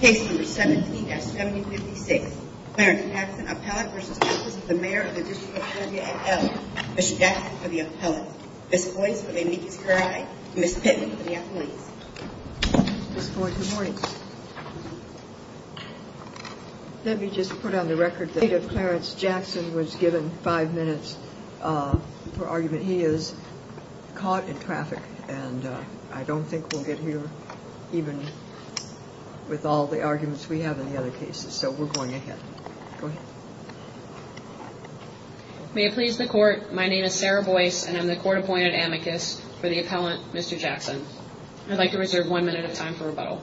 Case number 17-7056. Clarence Jackson, appellate v. Office of the Mayor of the District of Columbia, AL. Mr. Jackson for the appellate. Ms. Boyce for the amicus curiae. Ms. Pittman for the appellate. Ms. Boyce, good morning. Let me just put on the record that Clarence Jackson was given five minutes for argument. And he is caught in traffic and I don't think we'll get here even with all the arguments we have in the other cases. So we're going ahead. May it please the court. My name is Sarah Boyce and I'm the court appointed amicus for the appellant, Mr. Jackson. I'd like to reserve one minute of time for rebuttal.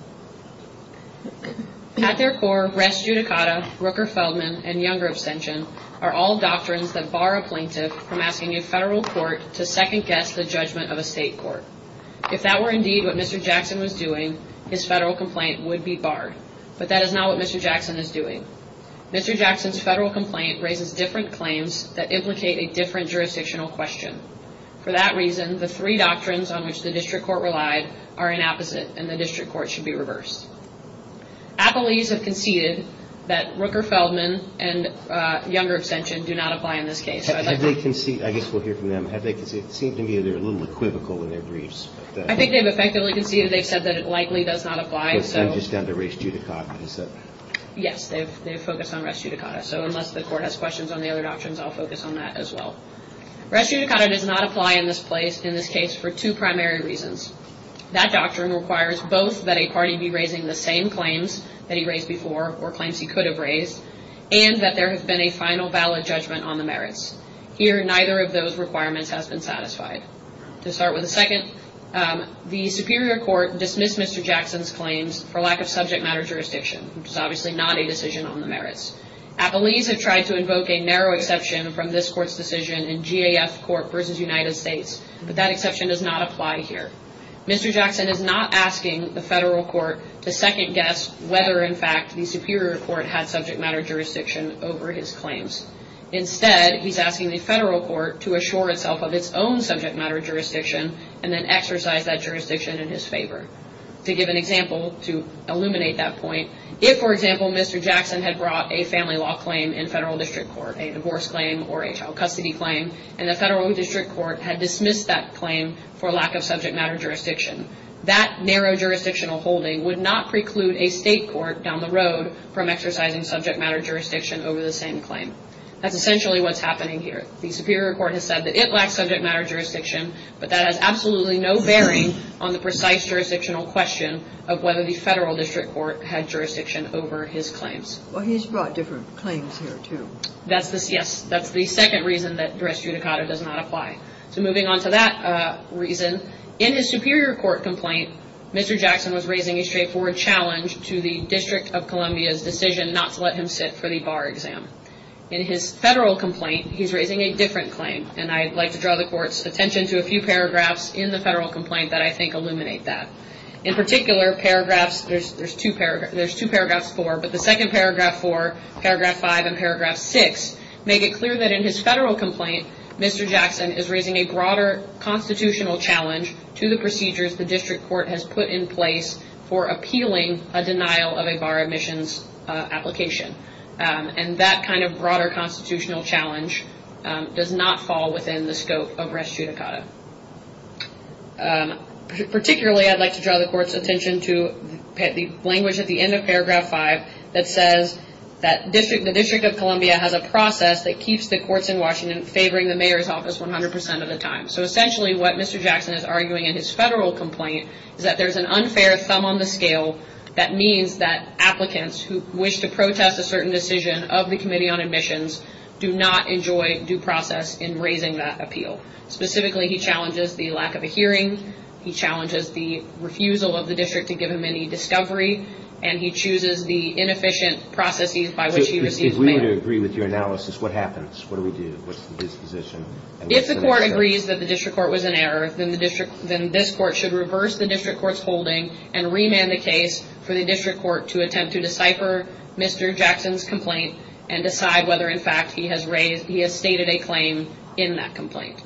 At their core, res judicata, Rooker-Feldman and Younger abstention are all doctrines that bar a plaintiff from asking a federal court to second guess the judgment of a state court. If that were indeed what Mr. Jackson was doing, his federal complaint would be barred. But that is not what Mr. Jackson is doing. Mr. Jackson's federal complaint raises different claims that implicate a different jurisdictional question. For that reason, the three doctrines on which the district court relied are inopposite and the district court should be reversed. Appellees have conceded that Rooker-Feldman and Younger abstention do not apply in this case. I guess we'll hear from them. It seems to me they're a little equivocal in their briefs. I think they've effectively conceded. They've said that it likely does not apply. I'm just down to res judicata. Yes, they've focused on res judicata. So unless the court has questions on the other doctrines, I'll focus on that as well. Res judicata does not apply in this case for two primary reasons. That doctrine requires both that a party be raising the same claims that he raised before, or claims he could have raised, and that there has been a final valid judgment on the merits. Here, neither of those requirements has been satisfied. To start with the second, the Superior Court dismissed Mr. Jackson's claims for lack of subject matter jurisdiction, which is obviously not a decision on the merits. Appellees have tried to invoke a narrow exception from this Court's decision in GAF Court v. United States, but that exception does not apply here. Mr. Jackson is not asking the Federal Court to second-guess whether, in fact, the Superior Court had subject matter jurisdiction over his claims. Instead, he's asking the Federal Court to assure itself of its own subject matter jurisdiction and then exercise that jurisdiction in his favor. To give an example, to illuminate that point, if, for example, Mr. Jackson had brought a family law claim in Federal District Court, a divorce claim or a child custody claim, and the Federal District Court had dismissed that claim for lack of subject matter jurisdiction, that narrow jurisdictional holding would not preclude a state court down the road from exercising subject matter jurisdiction over the same claim. That's essentially what's happening here. The Superior Court has said that it lacks subject matter jurisdiction, but that has absolutely no bearing on the precise jurisdictional question of whether the Federal District Court had jurisdiction over his claims. Well, he's brought different claims here, too. Yes, that's the second reason that dress judicata does not apply. So moving on to that reason, in his Superior Court complaint, Mr. Jackson was raising a straightforward challenge to the District of Columbia's decision not to let him sit for the bar exam. In his Federal complaint, he's raising a different claim, and I'd like to draw the Court's attention to a few paragraphs in the Federal complaint that I think illuminate that. In particular, there's two paragraphs, four, but the second paragraph, four, paragraph five, and paragraph six, make it clear that in his Federal complaint, Mr. Jackson is raising a broader constitutional challenge to the procedures the District Court has put in place for appealing a denial of a bar admissions application. And that kind of broader constitutional challenge does not fall within the scope of dress judicata. Particularly, I'd like to draw the Court's attention to the language at the end of paragraph five that says that the District of Columbia has a process that keeps the courts in Washington favoring the mayor's office 100% of the time. So essentially, what Mr. Jackson is arguing in his Federal complaint is that there's an unfair thumb on the scale that means that applicants who wish to protest a certain decision of the Committee on Admissions do not enjoy due process in raising that appeal. Specifically, he challenges the lack of a hearing, he challenges the refusal of the District to give him any discovery, and he chooses the inefficient processes by which he receives mail. So if we were to agree with your analysis, what happens? What do we do? What's the disposition? If the Court agrees that the District Court was in error, then this Court should reverse the District Court's holding and remand the case for the District Court to attempt to decipher Mr. Jackson's complaint and decide whether, in fact, he has stated a claim in that complaint.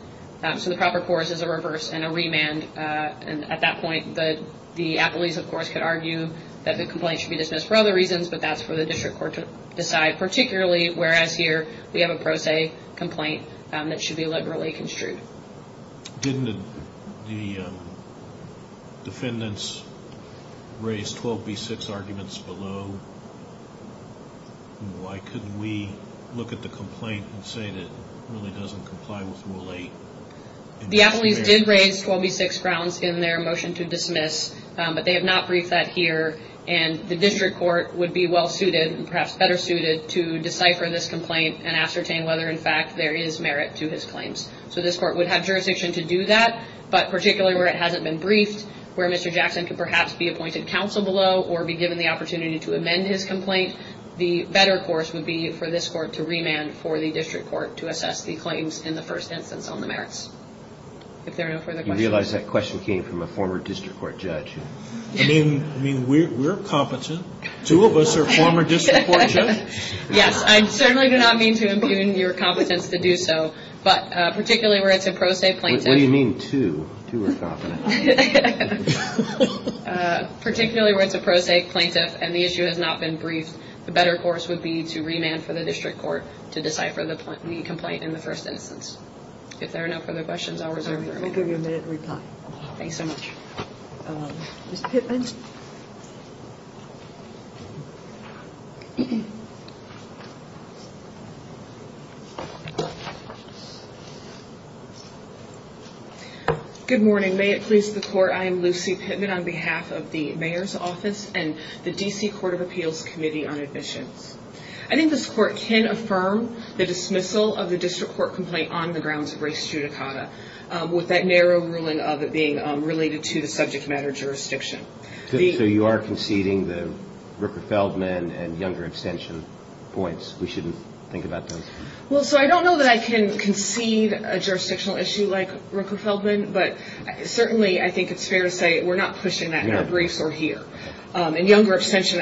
So the proper course is a reverse and a remand. At that point, the appellees, of course, could argue that the complaint should be dismissed for other reasons, but that's for the District Court to decide. Particularly, whereas here, we have a pro se complaint that should be liberally construed. Didn't the defendants raise 12B6 arguments below? Why couldn't we look at the complaint and say that it really doesn't comply with Rule 8? The appellees did raise 12B6 grounds in their motion to dismiss, but they have not briefed that here, and the District Court would be well-suited and perhaps better suited to decipher this complaint and ascertain whether, in fact, there is merit to his claims. So this Court would have jurisdiction to do that, but particularly where it hasn't been briefed, where Mr. Jackson could perhaps be appointed counsel below or be given the opportunity to amend his complaint, the better course would be for this Court to remand for the District Court to assess the claims in the first instance on the merits. If there are no further questions. You realize that question came from a former District Court judge. I mean, we're competent. Two of us are former District Court judges. Yes, I certainly do not mean to impugn your competence to do so, but particularly where it's a pro se plaintiff. What do you mean, two? Two are competent. Particularly where it's a pro se plaintiff and the issue has not been briefed, the better course would be to remand for the District Court to decipher the complaint in the first instance. If there are no further questions, I'll reserve the room. All right. We'll give you a minute to reply. Thanks so much. Ms. Pittman. Good morning. May it please the Court, I am Lucy Pittman on behalf of the Mayor's Office and the D.C. Court of Appeals Committee on Admissions. I think this Court can affirm the dismissal of the District Court complaint on the grounds of race judicata, with that narrow ruling of it being related to the subject matter jurisdiction. So you are conceding the Rooker-Feldman and Younger abstention points? We shouldn't think about those? Well, so I don't know that I can concede a jurisdictional issue like Rooker-Feldman, but certainly I think it's fair to say we're not pushing that. Our briefs are here. And Younger abstention,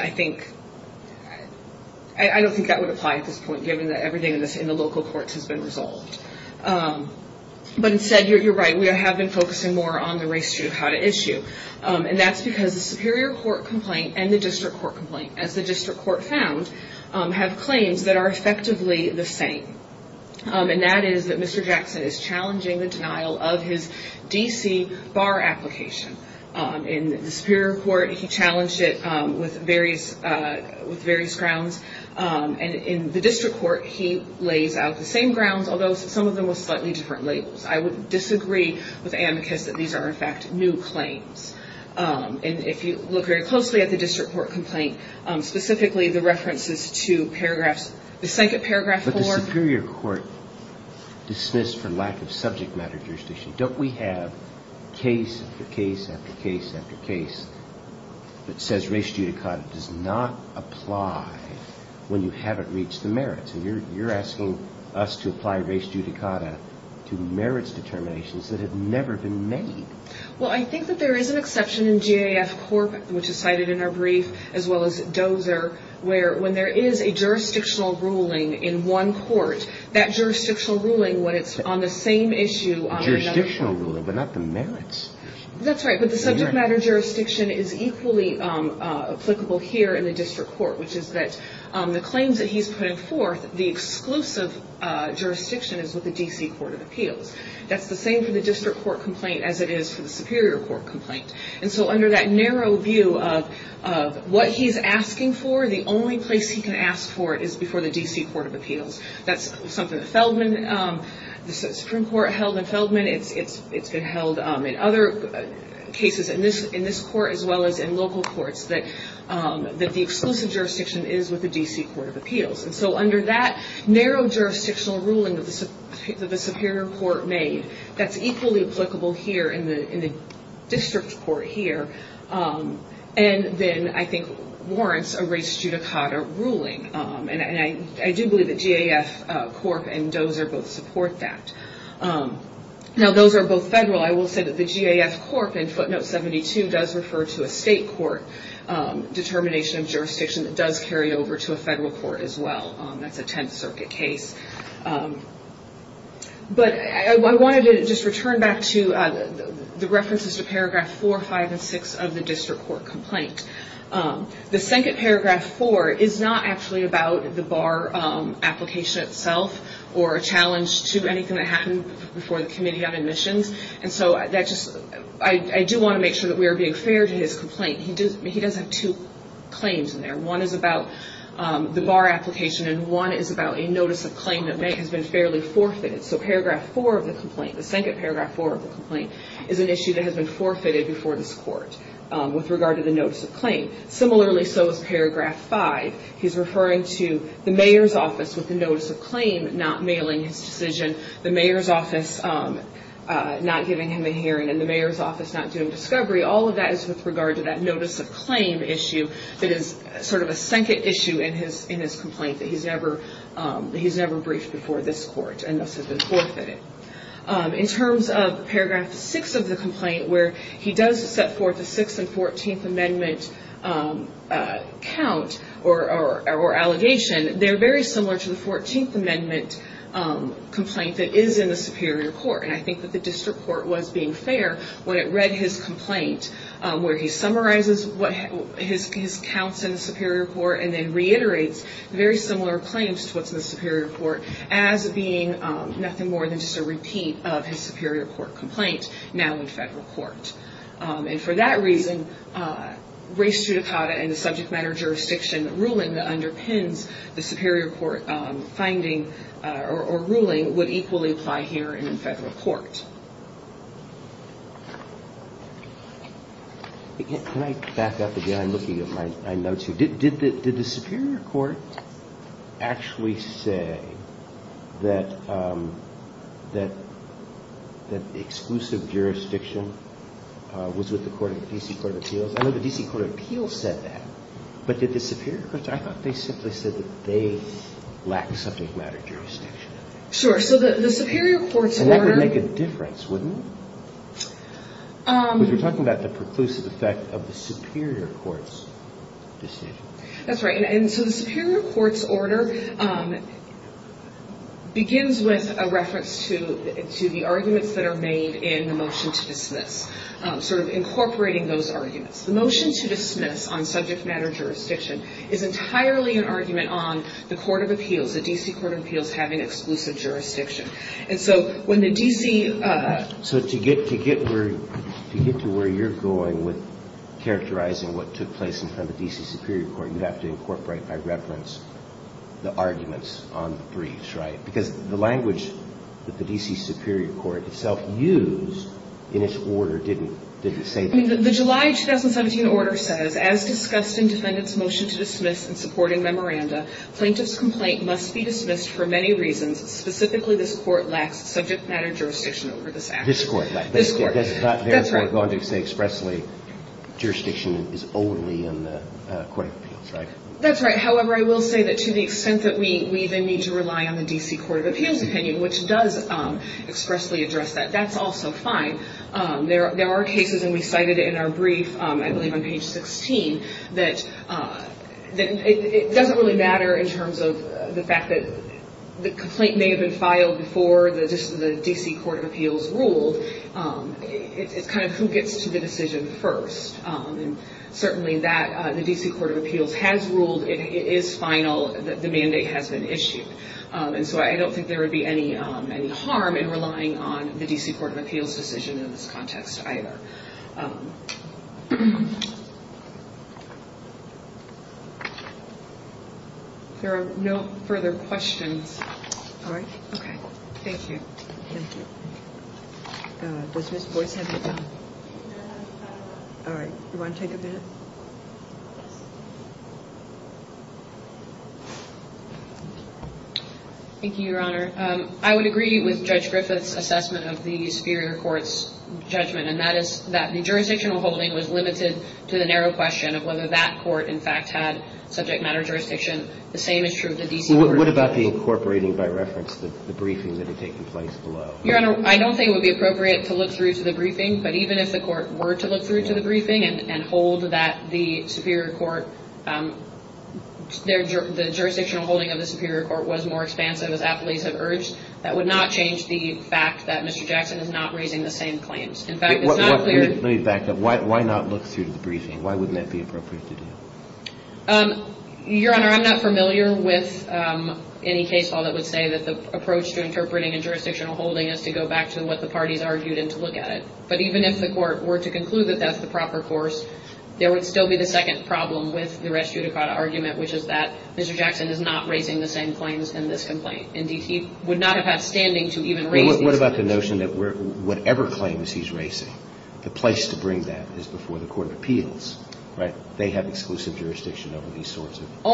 I don't think that would apply at this point, given that everything in the local courts has been resolved. But instead, you're right, we have been focusing more on the race judicata issue. And that's because the Superior Court complaint and the District Court complaint, as the District Court found, have claims that are effectively the same. And that is that Mr. Jackson is challenging the denial of his D.C. bar application. In the Superior Court, he challenged it with various grounds. And in the District Court, he lays out the same grounds, although some of them with slightly different labels. I would disagree with Amicus that these are, in fact, new claims. And if you look very closely at the District Court complaint, specifically the references to paragraphs, the second paragraph forward. But the Superior Court dismissed for lack of subject matter jurisdiction. Don't we have case after case after case after case that says race judicata does not apply when you haven't reached the merits? And you're asking us to apply race judicata to merits determinations that have never been made. Well, I think that there is an exception in GAF Corp., which is cited in our brief, as well as Dozer, where when there is a jurisdictional ruling in one court, that jurisdictional ruling, when it's on the same issue on another court. Jurisdictional ruling, but not the merits. That's right. But the subject matter jurisdiction is equally applicable here in the District Court, which is that the claims that he's putting forth, the exclusive jurisdiction, is with the D.C. Court of Appeals. That's the same for the District Court complaint as it is for the Superior Court complaint. And so under that narrow view of what he's asking for, the only place he can ask for it is before the D.C. Court of Appeals. That's something that Feldman, the Supreme Court held in Feldman. It's been held in other cases in this court as well as in local courts that the exclusive jurisdiction is with the D.C. Court of Appeals. And so under that narrow jurisdictional ruling that the Superior Court made, that's equally applicable here in the District Court here, and then I think warrants a race judicata ruling. And I do believe that GAF Corp. and Dozer both support that. Now those are both federal. I will say that the GAF Corp. in footnote 72 does refer to a state court determination of jurisdiction that does carry over to a federal court as well. That's a Tenth Circuit case. But I wanted to just return back to the references to paragraph 4, 5, and 6 of the District Court complaint. The second paragraph, 4, is not actually about the bar application itself or a challenge to anything that happened before the Committee on Admissions. And so I do want to make sure that we are being fair to his complaint. He does have two claims in there. One is about the bar application, and one is about a notice of claim that has been fairly forfeited. So paragraph 4 of the complaint, the second paragraph, 4 of the complaint, is an issue that has been forfeited before this court with regard to the notice of claim. Similarly so is paragraph 5. He's referring to the mayor's office with the notice of claim not mailing his decision. The mayor's office not giving him a hearing. And the mayor's office not doing discovery. All of that is with regard to that notice of claim issue that is sort of a second issue in his complaint that he's never briefed before this court, and thus has been forfeited. In terms of paragraph 6 of the complaint, where he does set forth a 6th and 14th Amendment count or allegation, they're very similar to the 14th Amendment complaint that is in the Superior Court. And I think that the District Court was being fair when it read his complaint, where he summarizes his counts in the Superior Court and then reiterates very similar claims to what's in the Superior Court as being nothing more than just a repeat of his Superior Court complaint now in federal court. And for that reason, race judicata and the subject matter jurisdiction ruling that underpins the Superior Court finding or ruling would equally apply here in federal court. Can I back up again? I'm looking at my notes here. Did the Superior Court actually say that the exclusive jurisdiction was with the DC Court of Appeals? I know the DC Court of Appeals said that. But did the Superior Court? I thought they simply said that they lacked subject matter jurisdiction. Sure. So the Superior Court's order... And that would make a difference, wouldn't it? Because we're talking about the preclusive effect of the Superior Court's decision. That's right. And so the Superior Court's order begins with a reference to the arguments that are made in the motion to dismiss, sort of incorporating those arguments. The motion to dismiss on subject matter jurisdiction is entirely an argument on the Court of Appeals, the DC Court of Appeals, having exclusive jurisdiction. And so when the DC... So to get to where you're going with characterizing what took place in front of the DC Superior Court, you'd have to incorporate by reference the arguments on the briefs, right? Because the language that the DC Superior Court itself used in its order didn't say... I mean, the July 2017 order says, as discussed in defendant's motion to dismiss in supporting memoranda, plaintiff's complaint must be dismissed for many reasons. Specifically, this Court lacks subject matter jurisdiction over this act. This Court, right. This Court. That's not there for a bond to say expressly jurisdiction is only in the Court of Appeals, right? That's right. However, I will say that to the extent that we then need to rely on the DC Court of Appeals opinion, which does expressly address that, that's also fine. There are cases, and we cited it in our brief, I believe on page 16, that it doesn't really matter in terms of the fact that the complaint may have been filed before the DC Court of Appeals ruled. It's kind of who gets to the decision first. And certainly that the DC Court of Appeals has ruled. It is final. The mandate has been issued. And so I don't think there would be any harm in relying on the DC Court of Appeals decision in this context either. There are no further questions. All right. Okay. Thank you. Thank you. Does Ms. Boyce have a comment? No. All right. Do you want to take a minute? Thank you, Your Honor. I would agree with Judge Griffith's assessment of the superior court's judgment, and that is that the jurisdictional holding was limited to the narrow question of whether that court, in fact, had subject matter jurisdiction. The same is true of the DC Court of Appeals. What about the incorporating by reference the briefing that had taken place below? Your Honor, I don't think it would be appropriate to look through to the briefing, but even if the court were to look through to the briefing and hold that the superior court, the jurisdictional holding of the superior court was more expansive, as appellees have urged, that would not change the fact that Mr. Jackson is not raising the same claims. In fact, it's not clear. Let me back up. Why not look through to the briefing? Why wouldn't that be appropriate to do? Your Honor, I'm not familiar with any case law that would say that the approach to interpreting and jurisdictional holding is to go back to what the parties argued and to look at it. But even if the court were to conclude that that's the proper course, there would still be the second problem with the res judicata argument, which is that Mr. Jackson is not raising the same claims in this complaint. Indeed, he would not have had standing to even raise these claims. What about the notion that whatever claims he's raising, the place to bring that is before the court of appeals, right? They have exclusive jurisdiction over these sorts of bar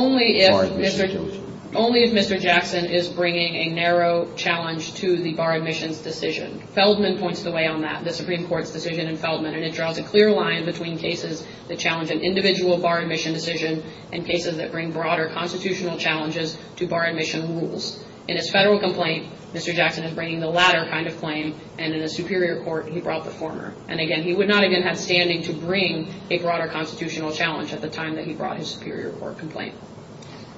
admissions. Only if Mr. Jackson is bringing a narrow challenge to the bar admissions decision. Feldman points the way on that. The Supreme Court's decision in Feldman, and it draws a clear line between cases that challenge an individual bar admission decision and cases that bring broader constitutional challenges to bar admission rules. In his federal complaint, Mr. Jackson is bringing the latter kind of claim, and in the superior court he brought the former. And, again, he would not even have standing to bring a broader constitutional challenge at the time that he brought his superior court complaint.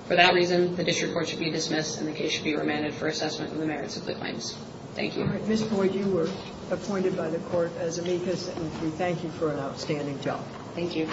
For that reason, the district court should be dismissed and the case should be remanded for assessment in the merits of the claims. Thank you. Ms. Boyd, you were appointed by the court as amicus, and we thank you for an outstanding job. Thank you.